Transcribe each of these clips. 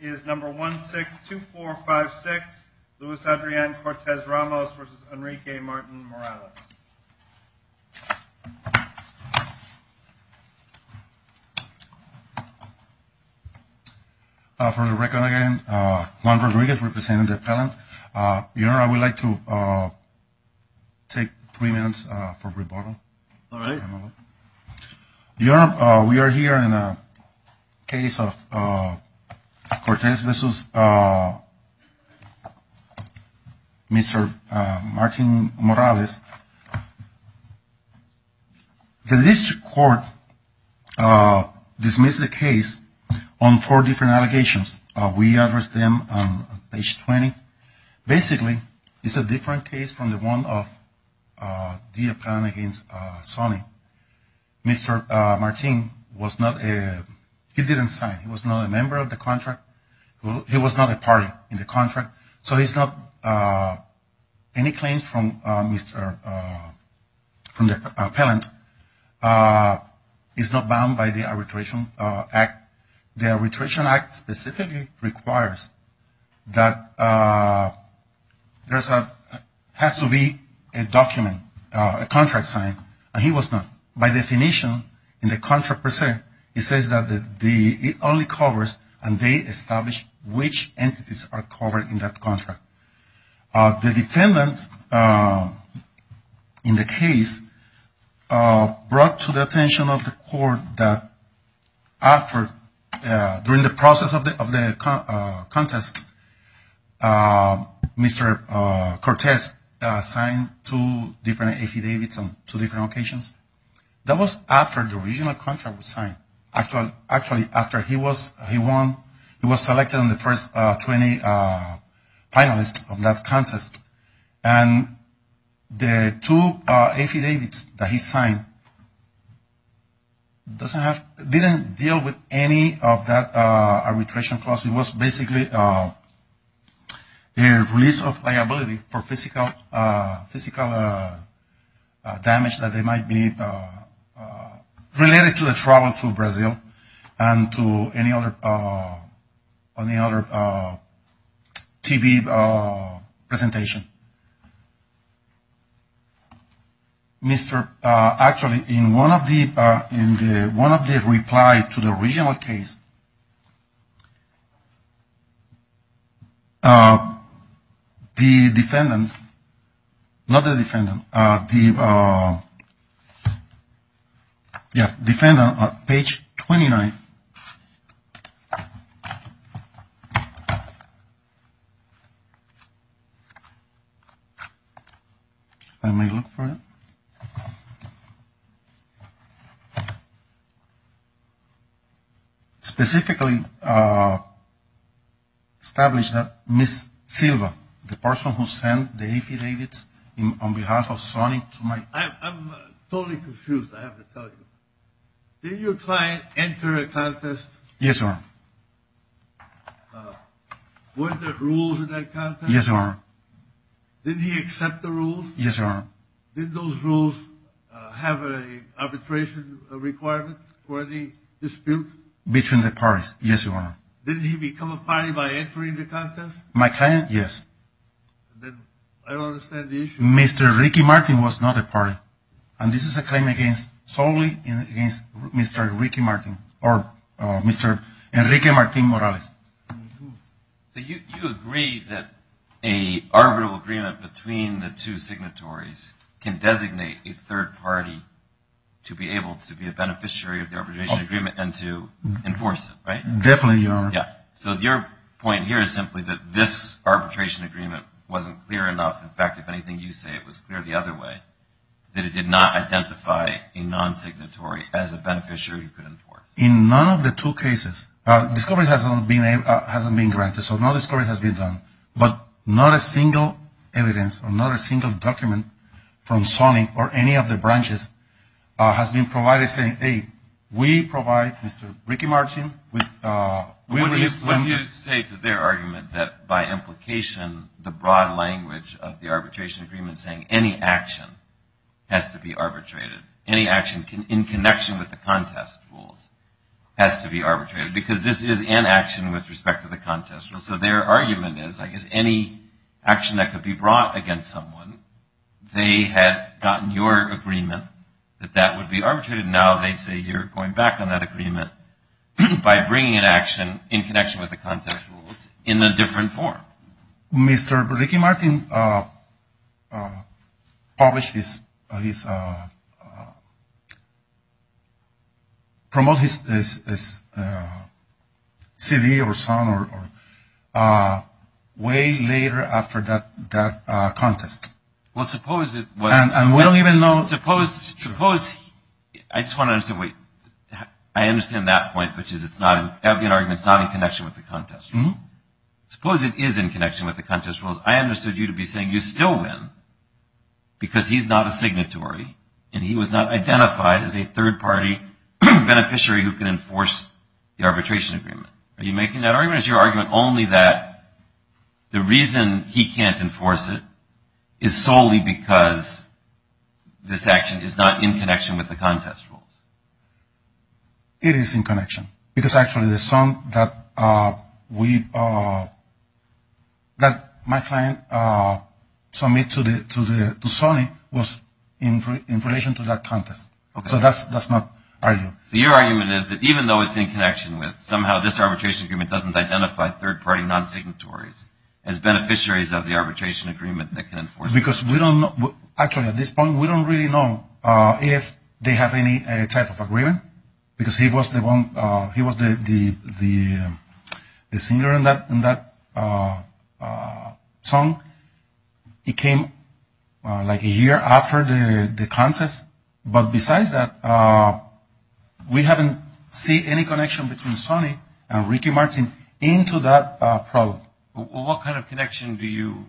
is number 162456 Luis Adrian Cortes-Ramos v. Enrique Martin-Morales. For the record again, Juan Rodriguez representing the appellant. Your Honor, I would like to take three minutes for rebuttal. All right. Your Honor, we are here in a case of Cortes v. Mr. Martin-Morales. The district court dismissed the case on four different allegations. We addressed them on page 20. Basically, it's a different case from the one of the appellant against Sonny. Mr. Martin was not a, he didn't sign. He was not a member of the contract. He was not a party in the contract. So he's not, any claims from Mr., from the appellant is not bound by the Arbitration Act. The Arbitration Act specifically requires that there has to be a document, a contract signed, and he was not. By definition, in the contract per se, it says that it only covers and they establish which entities are covered in that contract. The defendants in the case brought to the attention of the court that after, during the process of the contest, Mr. Cortes signed two different affidavits on two different occasions. That was after the original contract was signed. Actually, after he was, he won, he was selected in the first 20 finalists of that contest. And the two affidavits that he signed doesn't have, didn't deal with any of that arbitration clause. It was basically a release of liability for physical damage that might be related to the travel to Brazil and to any other TV presentation. Mr., actually, in one of the, in the, one of the reply to the original case, the defendant, not the defendant, the, yeah, defendant, page 29. Let me look for it. Specifically established that Ms. Silva, the person who sent the affidavits on behalf of Sonny to my. I'm totally confused. I have to tell you. Did your client enter a contest? Yes, sir. Were there rules in that contest? Yes, sir. Did he accept the rules? Yes, sir. Did those rules have an arbitration requirement for the dispute? Between the parties. Yes, sir. Did he become a party by entering the contest? My client? Yes. Then I don't understand the issue. Mr. Ricky Martin was not a party. And this is a claim against solely against Mr. Ricky Martin or Mr. Enrique Martin Morales. You agree that a arbitral agreement between the two signatories can designate a third party to be able to be a beneficiary of the arbitration agreement and to enforce it, right? Definitely, Your Honor. Yeah. So your point here is simply that this arbitration agreement wasn't clear enough. In fact, if anything you say, it was clear the other way, that it did not identify a non-signatory as a beneficiary who could enforce. In none of the two cases, discovery hasn't been granted. So no discovery has been done. But not a single evidence or not a single document from Sony or any of the branches has been provided saying, hey, we provide Mr. Ricky Martin. When you say to their argument that by implication, the broad language of the arbitration agreement saying any action has to be arbitrated, any action in connection with the contest rules has to be arbitrated because this is an action with respect to the contest rules. So their argument is, I guess, any action that could be brought against someone, they had gotten your agreement that that would be arbitrated. Now they say you're going back on that agreement by bringing an action in connection with the contest rules in a different form. Mr. Ricky Martin published his CD or song way later after that contest. Well, suppose it was. And we don't even know. Well, suppose I just want to say, wait, I understand that point, which is it's not an argument. It's not in connection with the contest. Suppose it is in connection with the contest rules. I understood you to be saying you still win because he's not a signatory. And he was not identified as a third party beneficiary who can enforce the arbitration agreement. Are you making that argument? Or is your argument only that the reason he can't enforce it is solely because this action is not in connection with the contest rules? It is in connection. Because actually the song that my client submitted to Sony was in relation to that contest. So that's not argued. So your argument is that even though it's in connection with somehow this arbitration agreement doesn't identify third party non-signatories as beneficiaries of the arbitration agreement that can enforce it. Because we don't know. Actually, at this point, we don't really know if they have any type of agreement because he was the singer in that song. It came like a year after the contest. But besides that, we haven't seen any connection between Sony and Ricky Martin into that problem. Well, what kind of connection do you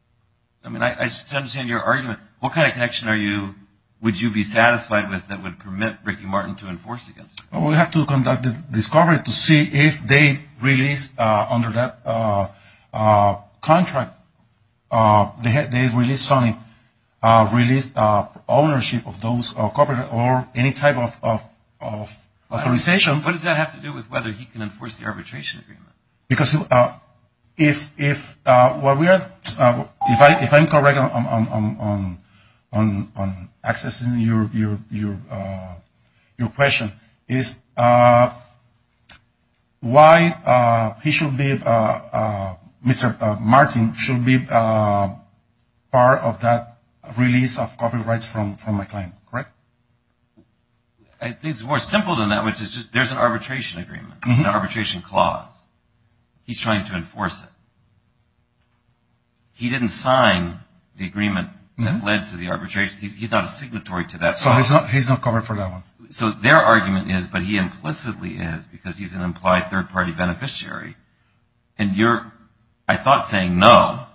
– I mean, I understand your argument. What kind of connection are you – would you be satisfied with that would permit Ricky Martin to enforce against you? We have to conduct a discovery to see if they released under that contract, they released ownership of those copyright or any type of authorization. What does that have to do with whether he can enforce the arbitration agreement? Because if I'm correct on accessing your question is why he should be – Mr. Martin should be part of that release of copyrights from my client, correct? I think it's more simple than that, which is just there's an arbitration agreement, an arbitration clause. He's trying to enforce it. He didn't sign the agreement that led to the arbitration. He's not a signatory to that. So he's not covered for that one. So their argument is, but he implicitly is because he's an implied third party beneficiary. And you're, I thought, saying no.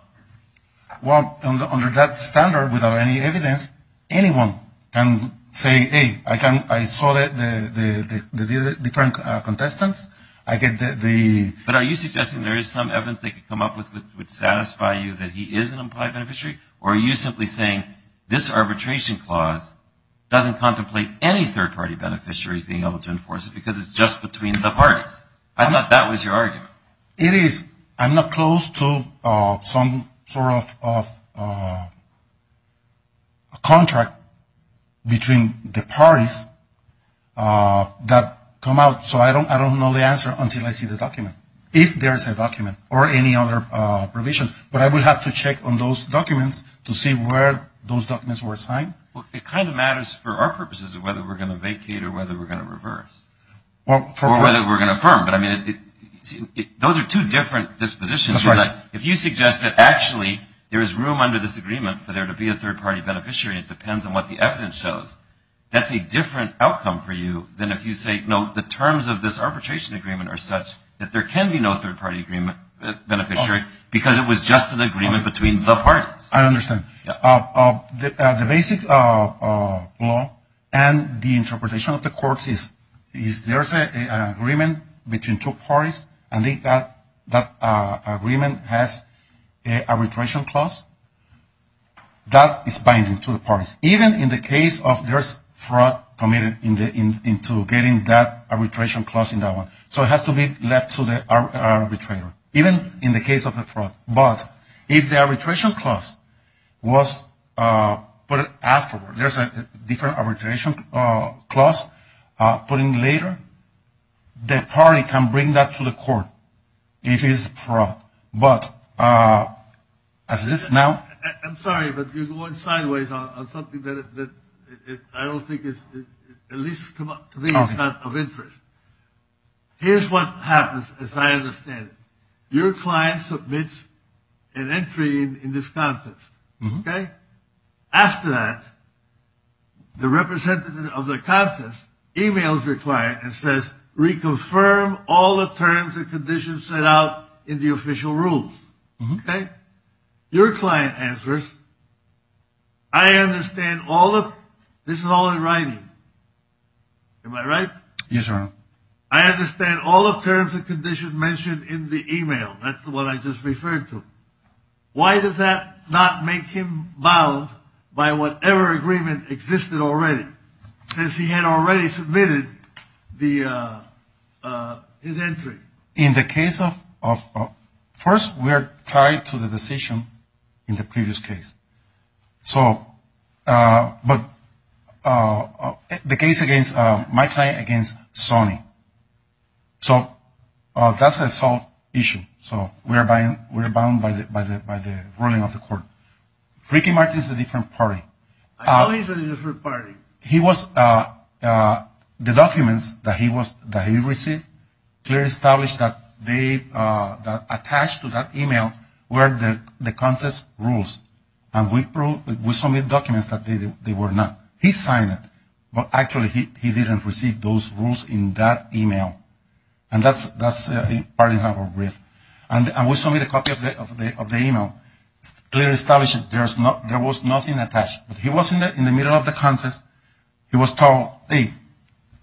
Well, under that standard, without any evidence, anyone can say, hey, I saw the different contestants. I get the – But are you suggesting there is some evidence they could come up with that would satisfy you that he is an implied beneficiary? Or are you simply saying this arbitration clause doesn't contemplate any third party beneficiaries being able to enforce it because it's just between the parties? I thought that was your argument. It is. I'm not close to some sort of contract between the parties that come out. So I don't know the answer until I see the document, if there is a document or any other provision. But I would have to check on those documents to see where those documents were signed. Well, it kind of matters for our purposes of whether we're going to vacate or whether we're going to reverse. Or whether we're going to affirm. But, I mean, those are two different dispositions. That's right. If you suggest that actually there is room under this agreement for there to be a third party beneficiary, it depends on what the evidence shows. That's a different outcome for you than if you say, no, the terms of this arbitration agreement are such that there can be no third party beneficiary because it was just an agreement between the parties. I understand. The basic law and the interpretation of the courts is there's an agreement between two parties, and that agreement has an arbitration clause that is binding to the parties. Even in the case of there's fraud committed into getting that arbitration clause in that one. So it has to be left to the arbitrator, even in the case of a fraud. But if the arbitration clause was put afterward, there's a different arbitration clause put in later, the party can bring that to the court if it's fraud. But as it is now. I'm sorry, but you're going sideways on something that I don't think is, at least to me, is not of interest. Here's what happens, as I understand it. Your client submits an entry in this contest. OK. After that, the representative of the contest emails your client and says, reconfirm all the terms and conditions set out in the official rules. OK. Your client answers. I understand all of this is all in writing. Am I right? Yes, sir. I understand all of terms and conditions mentioned in the email. That's what I just referred to. Why does that not make him bound by whatever agreement existed already? Because he had already submitted his entry. In the case of ‑‑ first, we are tied to the decision in the previous case. So, but the case against my client against Sony. So, that's a solved issue. So, we're bound by the ruling of the court. Ricky Martin is a different party. I know he's a different party. The documents that he received clearly established that they attached to that email were the contest rules. And we submitted documents that they were not. He signed it. But, actually, he didn't receive those rules in that email. And that's part of our brief. And we submitted a copy of the email. Clearly established there was nothing attached. But he was in the middle of the contest. He was told, hey,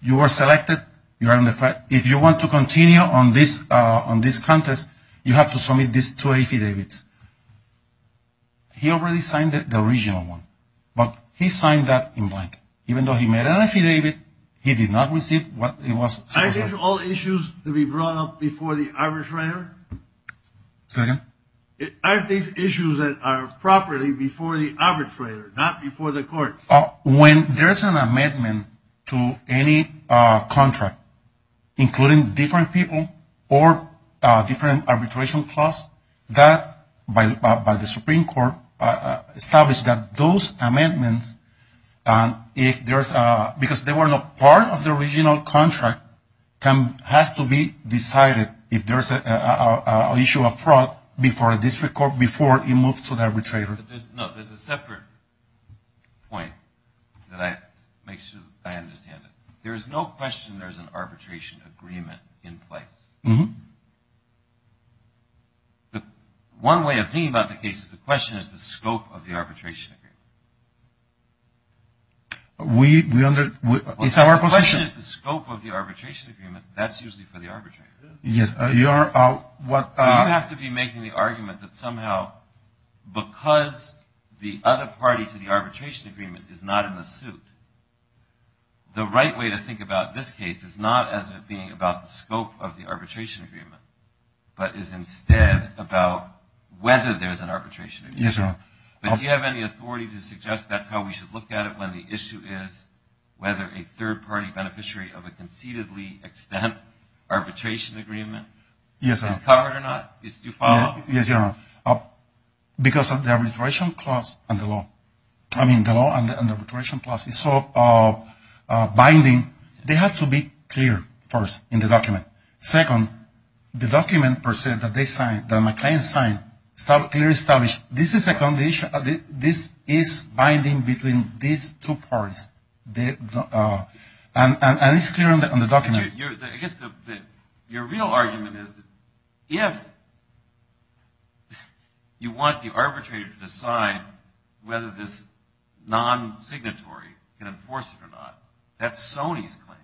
you are selected. If you want to continue on this contest, you have to submit these two affidavits. He already signed the original one. But he signed that in blank. Even though he made an affidavit, he did not receive what he was supposed to. Are these all issues to be brought up before the arbitrator? Say that again? Are these issues that are properly before the arbitrator, not before the court? When there's an amendment to any contract, including different people or different arbitration clause, that, by the Supreme Court, established that those amendments, because they were not part of the original contract, has to be decided if there's an issue of fraud before a district court, before it moves to the arbitrator. No, there's a separate point that I make sure I understand it. There is no question there's an arbitration agreement in place. One way of thinking about the case is the question is the scope of the arbitration agreement. It's our position. As much as the scope of the arbitration agreement, that's usually for the arbitrator. You have to be making the argument that somehow because the other party to the arbitration agreement is not in the suit, the right way to think about this case is not as it being about the scope of the arbitration agreement, but is instead about whether there's an arbitration agreement. But do you have any authority to suggest that's how we should look at it and the issue is whether a third-party beneficiary of a concededly-extent arbitration agreement is covered or not? Do you follow? Yes, Your Honor. Because of the arbitration clause and the law. I mean, the law and the arbitration clause is binding. They have to be clear, first, in the document. Second, the document, per se, that they signed, that my client signed, is clearly established. This is a condition. This is binding between these two parties. And it's clear on the document. Your real argument is if you want the arbitrator to decide whether this non-signatory can enforce it or not, that's Sony's claim.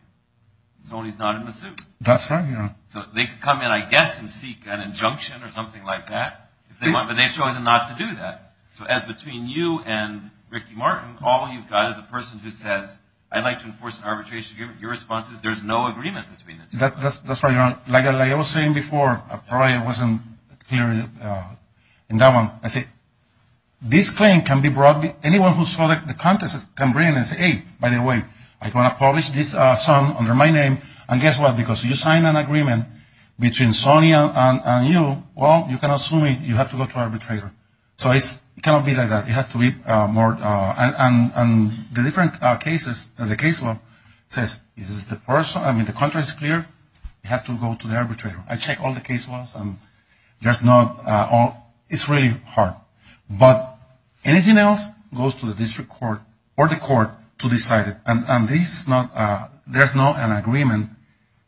Sony's not in the suit. That's right, Your Honor. So they can come in, I guess, and seek an injunction or something like that. But they've chosen not to do that. So as between you and Ricky Martin, all you've got is a person who says, I'd like to enforce an arbitration agreement. Your response is there's no agreement between the two. That's right, Your Honor. Like I was saying before, I probably wasn't clear in that one. I say, this claim can be brought, anyone who saw the contest can bring it in and say, hey, by the way, I'm going to publish this song under my name. And guess what? Because you sign an agreement between Sony and you, well, you can assume you have to go to the arbitrator. So it cannot be like that. It has to be more. And the different cases, the case law says this is the person. I mean, the contract is clear. It has to go to the arbitrator. I checked all the case laws, and there's not all. It's really hard. But anything else goes to the district court or the court to decide it. And there's not an agreement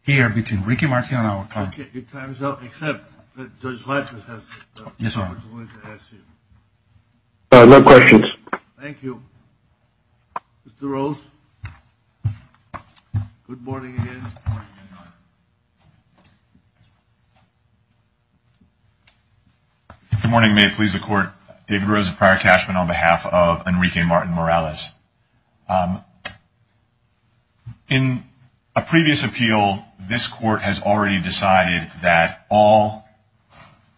here between Enrique Martin and our client. Okay. Your time is up, except that Judge Blanchard has a question he wants to ask you. No questions. Thank you. Mr. Rose? Good morning again. Good morning, Your Honor. Good morning. May it please the Court. David Rose of Prior Cashman on behalf of Enrique Martin Morales. In a previous appeal, this Court has already decided that all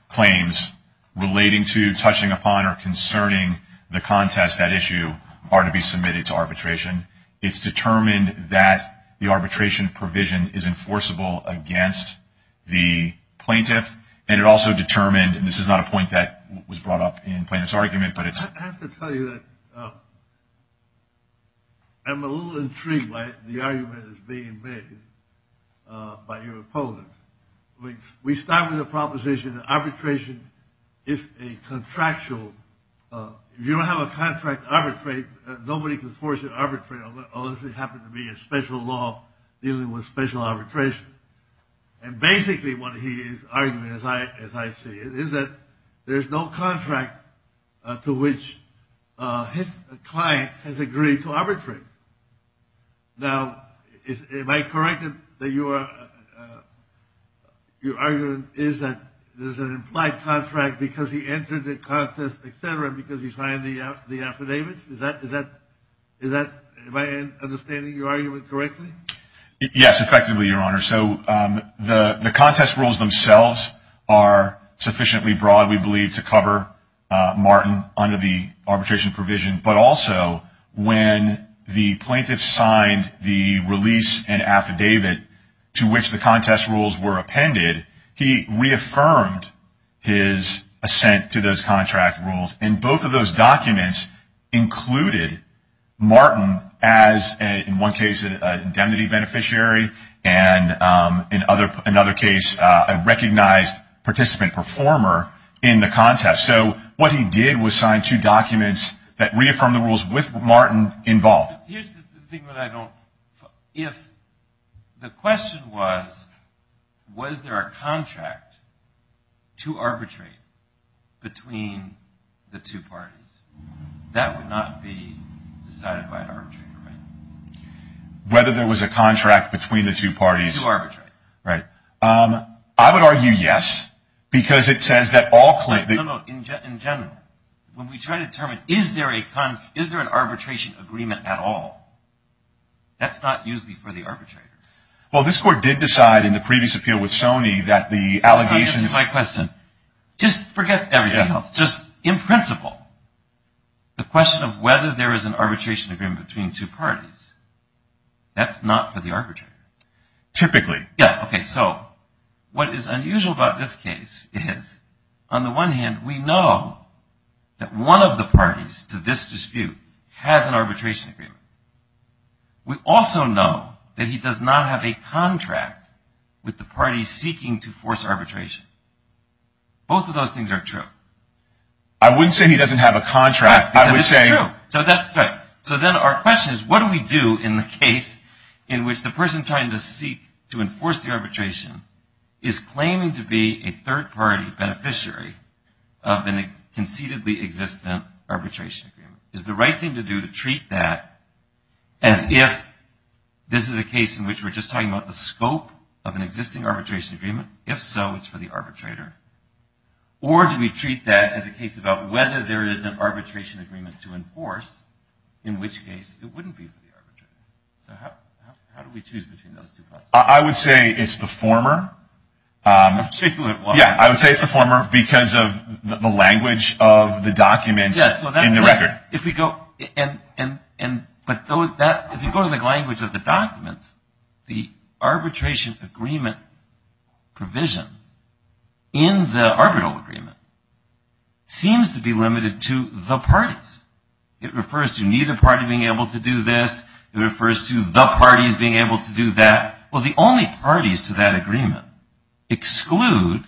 claims relating to, touching upon, or concerning the contest at issue are to be submitted to arbitration. It's determined that the arbitration provision is enforceable against the plaintiff. And it also determined, and this is not a point that was brought up in Plaintiff's argument, but it's. I have to tell you that I'm a little intrigued by the argument that's being made by your opponent. We start with a proposition that arbitration is a contractual. If you don't have a contract to arbitrate, nobody can force you to arbitrate unless it happens to be a special law dealing with special arbitration. And basically what he is arguing, as I see it, is that there's no contract to which his client has agreed to arbitrate. Now, am I correct in that your argument is that there's an implied contract because he entered the contest, et cetera, because he signed the affidavits? Is that my understanding of your argument correctly? Yes, effectively, Your Honor. So the contest rules themselves are sufficiently broad, we believe, to cover Martin under the arbitration provision. But also, when the plaintiff signed the release and affidavit to which the contest rules were appended, he reaffirmed his assent to those contract rules. And both of those documents included Martin as, in one case, an indemnity beneficiary, and in another case, a recognized participant performer in the contest. So what he did was sign two documents that reaffirmed the rules with Martin involved. Here's the thing that I don't – if the question was, was there a contract to arbitrate between the two parties, that would not be decided by an arbitrator, right? Whether there was a contract between the two parties. To arbitrate. Right. I would argue yes, because it says that all – In general, when we try to determine, is there an arbitration agreement at all, that's not usually for the arbitrator. Well, this Court did decide in the previous appeal with Sony that the allegations – That's not even my question. Just forget everything else. Just in principle, the question of whether there is an arbitration agreement between two parties, that's not for the arbitrator. Typically. Yeah, okay. So what is unusual about this case is, on the one hand, we know that one of the parties to this dispute has an arbitration agreement. We also know that he does not have a contract with the party seeking to force arbitration. Both of those things are true. I wouldn't say he doesn't have a contract. I would say – In which the person trying to seek to enforce the arbitration is claiming to be a third-party beneficiary of an conceitedly existent arbitration agreement. Is the right thing to do to treat that as if this is a case in which we're just talking about the scope of an existing arbitration agreement? If so, it's for the arbitrator. Or do we treat that as a case about whether there is an arbitration agreement to enforce, in which case it wouldn't be for the arbitrator? How do we choose between those two? I would say it's the former. Yeah, I would say it's the former because of the language of the documents in the record. If you go to the language of the documents, the arbitration agreement provision in the arbitral agreement seems to be limited to the parties. It refers to neither party being able to do this. It refers to the parties being able to do that. Well, the only parties to that agreement exclude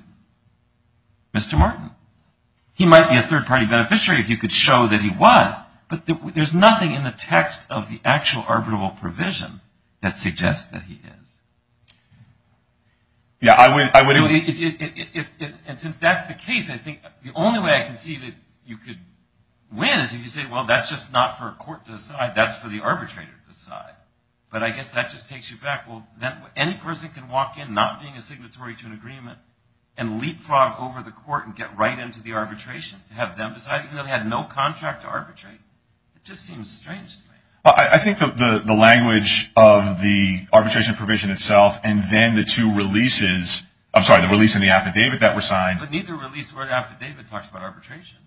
Mr. Martin. He might be a third-party beneficiary if you could show that he was. But there's nothing in the text of the actual arbitral provision that suggests that he is. Yeah, I would agree. And since that's the case, I think the only way I can see that you could win is if you say, well, that's just not for a court to decide. That's for the arbitrator to decide. But I guess that just takes you back. Well, any person can walk in not being a signatory to an agreement and leapfrog over the court and get right into the arbitration to have them decide, even though they had no contract to arbitrate. It just seems strange to me. I think the language of the arbitration provision itself and then the two releases – I'm sorry, the release and the affidavit that were signed – But neither release or affidavit talks about arbitration.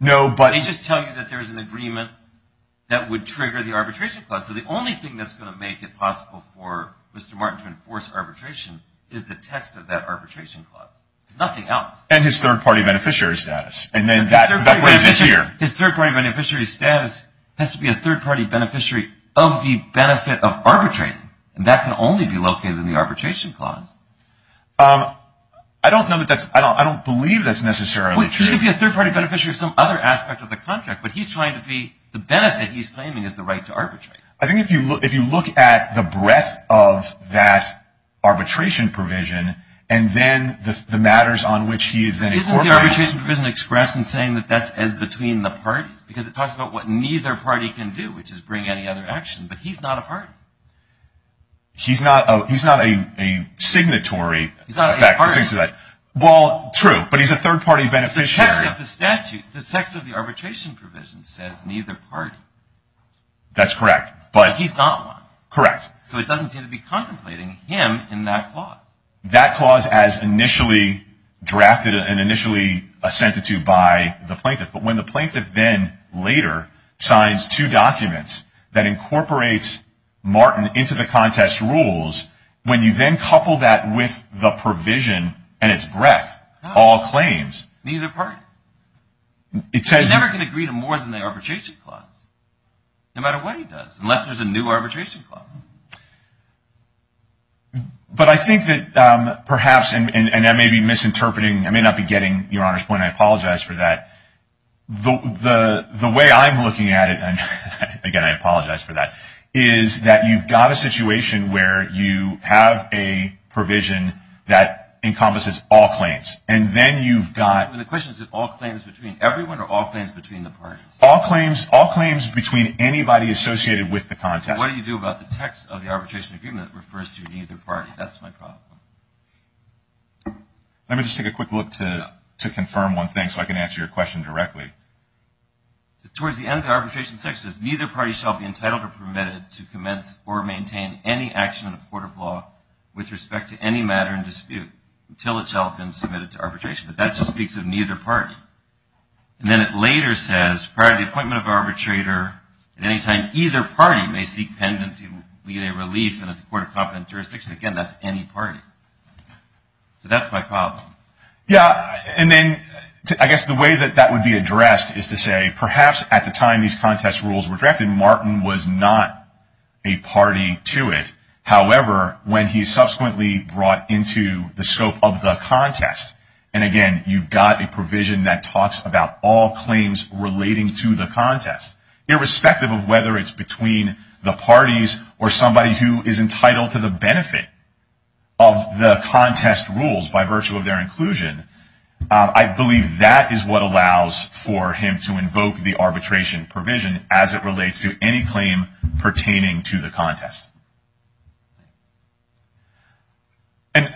No, but – They just tell you that there's an agreement that would trigger the arbitration clause. So the only thing that's going to make it possible for Mr. Martin to enforce arbitration is the text of that arbitration clause. There's nothing else. And his third-party beneficiary status. And then that raises – His third-party beneficiary status has to be a third-party beneficiary of the benefit of arbitrating, and that can only be located in the arbitration clause. I don't know that that's – I don't believe that's necessarily true. Well, he could be a third-party beneficiary of some other aspect of the contract, but he's trying to be – the benefit he's claiming is the right to arbitrate. I think if you look at the breadth of that arbitration provision and then the matters on which he is then incorporating – I'm saying that that's as between the parties because it talks about what neither party can do, which is bring any other action, but he's not a party. He's not a – he's not a signatory. He's not a party. Well, true, but he's a third-party beneficiary. The text of the statute, the text of the arbitration provision says neither party. That's correct, but – But he's not one. Correct. So it doesn't seem to be contemplating him in that clause. That clause as initially drafted and initially assented to by the plaintiff, but when the plaintiff then later signs two documents that incorporates Martin into the contest rules, when you then couple that with the provision and its breadth, all claims – Neither party. It says – He's never going to agree to more than the arbitration clause, no matter what he does, unless there's a new arbitration clause. But I think that perhaps, and I may be misinterpreting, I may not be getting Your Honor's point, and I apologize for that. The way I'm looking at it, and again, I apologize for that, is that you've got a situation where you have a provision that encompasses all claims, and then you've got – The question is all claims between – everyone or all claims between the parties? All claims between anybody associated with the contest. What do you do about the text of the arbitration agreement that refers to neither party? That's my problem. Let me just take a quick look to confirm one thing, so I can answer your question directly. Towards the end of the arbitration section, it says, Neither party shall be entitled or permitted to commence or maintain any action in the court of law with respect to any matter in dispute until it shall have been submitted to arbitration. But that just speaks of neither party. And then it later says, Prior to the appointment of an arbitrator, at any time, either party may seek penitentiary relief in a court of competent jurisdiction. Again, that's any party. So that's my problem. Yeah, and then I guess the way that that would be addressed is to say, perhaps at the time these contest rules were drafted, Martin was not a party to it. However, when he subsequently brought into the scope of the contest, and again, you've got a provision that talks about all claims relating to the contest, irrespective of whether it's between the parties or somebody who is entitled to the benefit of the contest rules by virtue of their inclusion, I believe that is what allows for him to invoke the arbitration provision as it relates to any claim pertaining to the contest. And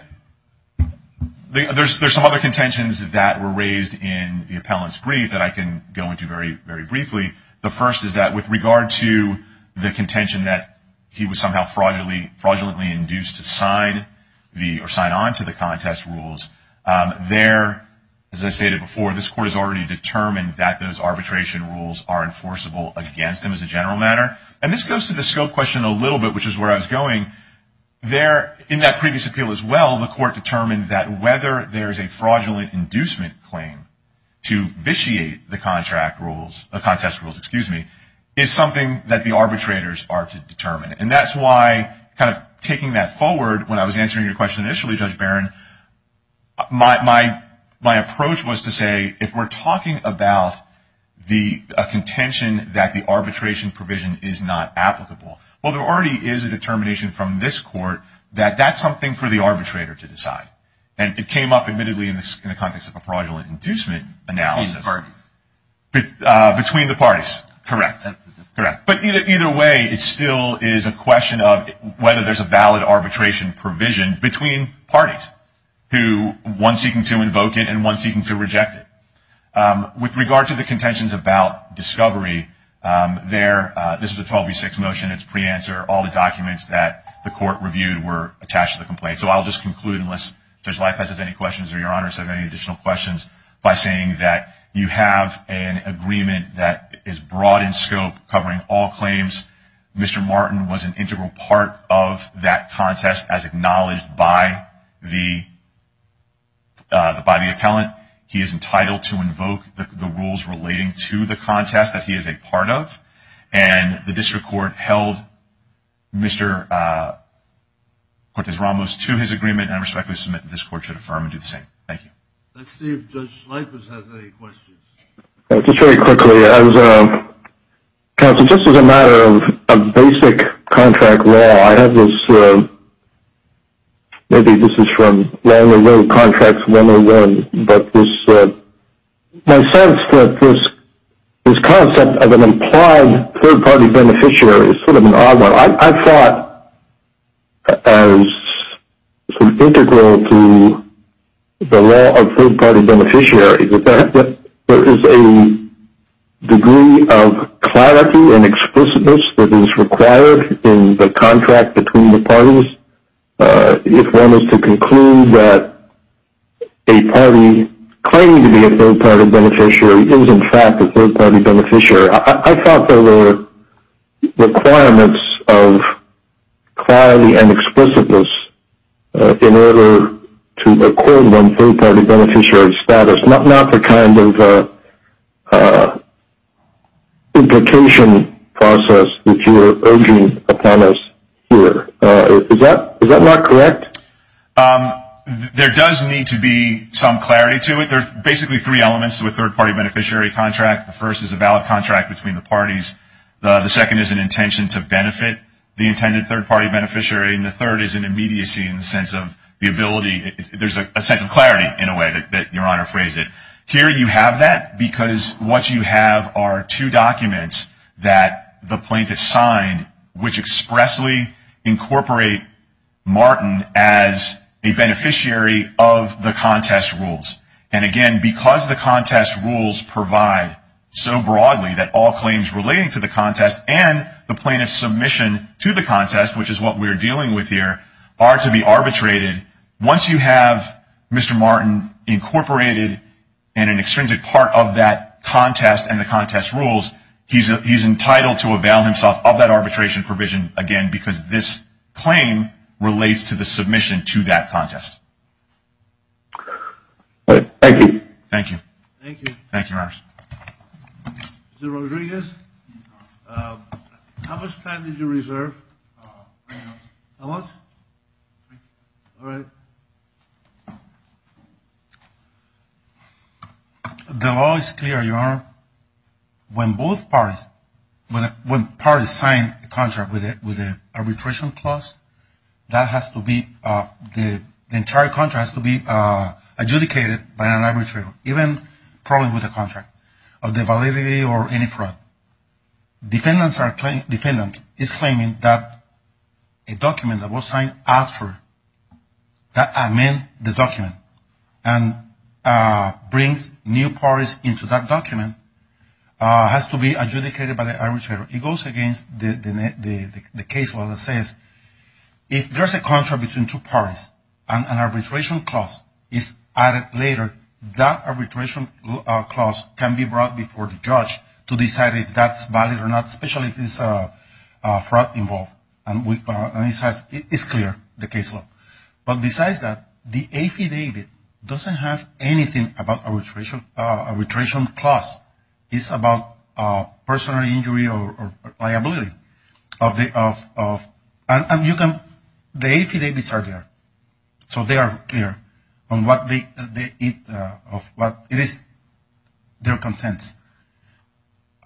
there's some other contentions that were raised in the appellant's brief that I can go into very briefly. The first is that with regard to the contention that he was somehow fraudulently induced to sign on to the contest rules, there, as I stated before, this court has already determined that those arbitration rules are enforceable against him as a general matter. And this goes to the scope question a little bit, which is where I was going, there, in that previous appeal as well, the court determined that whether there's a fraudulent inducement claim to vitiate the contest rules is something that the arbitrators are to determine. And that's why kind of taking that forward, when I was answering your question initially, Judge Barron, my approach was to say, if we're talking about a contention that the arbitration provision is not applicable, well, there already is a determination from this court that that's something for the arbitrator to decide. And it came up, admittedly, in the context of a fraudulent inducement analysis. Between the parties. Between the parties. Correct. Correct. But either way, it still is a question of whether there's a valid arbitration provision between parties, who, one seeking to invoke it and one seeking to reject it. With regard to the contentions about discovery, there, this is a 12v6 motion. It's pre-answer. All the documents that the court reviewed were attached to the complaint. So I'll just conclude, unless Judge Leif has any questions or your honors have any additional questions, by saying that you have an agreement that is broad in scope, covering all claims. Mr. Martin was an integral part of that contest, as acknowledged by the appellant. He is entitled to invoke the rules relating to the contest that he is a part of. And the district court held Mr. Cortez-Ramos to his agreement and I respectfully submit that this court should affirm and do the same. Thank you. Let's see if Judge Leif has any questions. Just very quickly, as counsel, just as a matter of basic contract law, I have this, maybe this is from Longer Road Contracts 101, but my sense that this concept of an implied third-party beneficiary is sort of an odd one. I thought as an integral to the law of third-party beneficiary that there is a degree of clarity and explicitness that is required in the contract between the parties. If one is to conclude that a party claiming to be a third-party beneficiary is, in fact, a third-party beneficiary, I thought there were requirements of clarity and explicitness in order to include one's third-party beneficiary status, not the kind of implication process that you are urging upon us here. Is that not correct? There does need to be some clarity to it. There are basically three elements to a third-party beneficiary contract. The first is a valid contract between the parties. The second is an intention to benefit the intended third-party beneficiary. And the third is an immediacy in the sense of the ability. There is a sense of clarity in a way that Your Honor phrased it. Here you have that because what you have are two documents that the plaintiff signed, which expressly incorporate Martin as a beneficiary of the contest rules. And, again, because the contest rules provide so broadly that all claims relating to the contest and the plaintiff's submission to the contest, which is what we are dealing with here, are to be arbitrated, once you have Mr. Martin incorporated in an extrinsic part of that contest and the contest rules, he is entitled to avail himself of that arbitration provision, again, because this claim relates to the submission to that contest. Thank you. Thank you. Thank you. Thank you, Your Honor. Mr. Rodriguez, how much time did you reserve? How much? All right. The law is clear, Your Honor. When both parties, when parties sign a contract with an arbitration clause, that has to be, the entire contract has to be adjudicated by an arbitrator, even probably with a contract, of the validity or any fraud. Defendant is claiming that a document that was signed after that amend the document and brings new parties into that document has to be adjudicated by the arbitrator. It goes against the case law that says if there's a contract between two parties and an arbitration clause is added later, that arbitration clause can be brought before the judge to decide if that's valid or not, especially if there's fraud involved. And it's clear, the case law. But besides that, the affidavit doesn't have anything about arbitration clause. It's about personal injury or liability. And you can, the affidavits are there. So they are clear on what it is, their contents.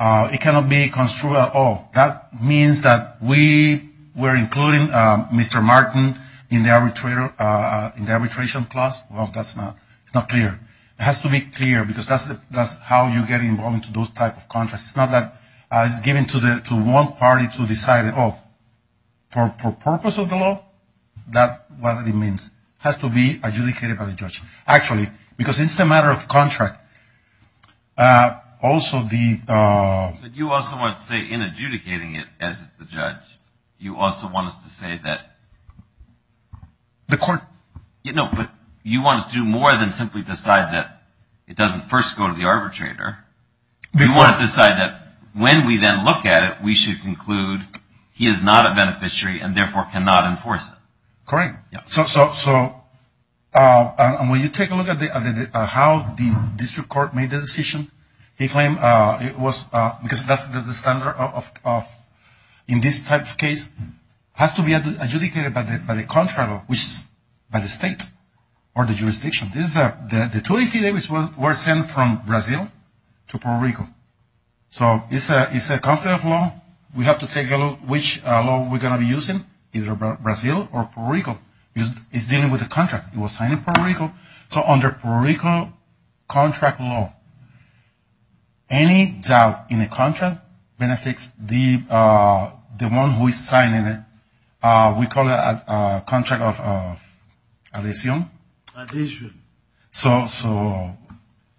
It cannot be construed at all. That means that we were including Mr. Martin in the arbitration clause. Well, that's not clear. It has to be clear because that's how you get involved into those type of contracts. It's not that it's given to one party to decide it all. For purpose of the law, that's what it means. It has to be adjudicated by the judge. Actually, because it's a matter of contract. Also, the... But you also want to say in adjudicating it as the judge, you also want us to say that... The court... No, but you want us to do more than simply decide that it doesn't first go to the arbitrator. You want us to decide that when we then look at it, we should conclude he is not a beneficiary and therefore cannot enforce it. Correct. So when you take a look at how the district court made the decision, they claim it was because that's the standard in this type of case. It has to be adjudicated by the contract, which is by the state or the jurisdiction. This is a... The 280 days were sent from Brazil to Puerto Rico. So it's a conflict of law. We have to take a look which law we're going to be using, either Brazil or Puerto Rico. It's dealing with a contract. It was signed in Puerto Rico. So under Puerto Rico contract law, any doubt in the contract benefits the one who is signing it. We call it a contract of adhesion. Adhesion. So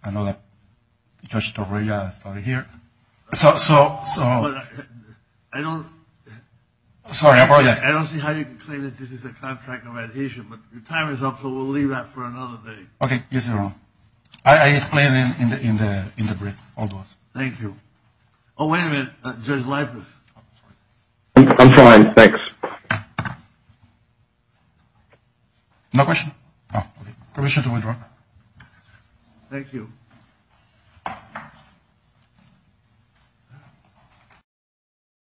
I know that Judge Torrega started here. So... I don't... Sorry, I apologize. I don't see how you can claim that this is a contract of adhesion, but your time is up, so we'll leave that for another day. Okay. Yes, Your Honor. I explained it in the brief. Thank you. Oh, wait a minute. Judge Lippert. I'm fine. Thanks. No questions? Oh, okay. Permission to withdraw. Thank you.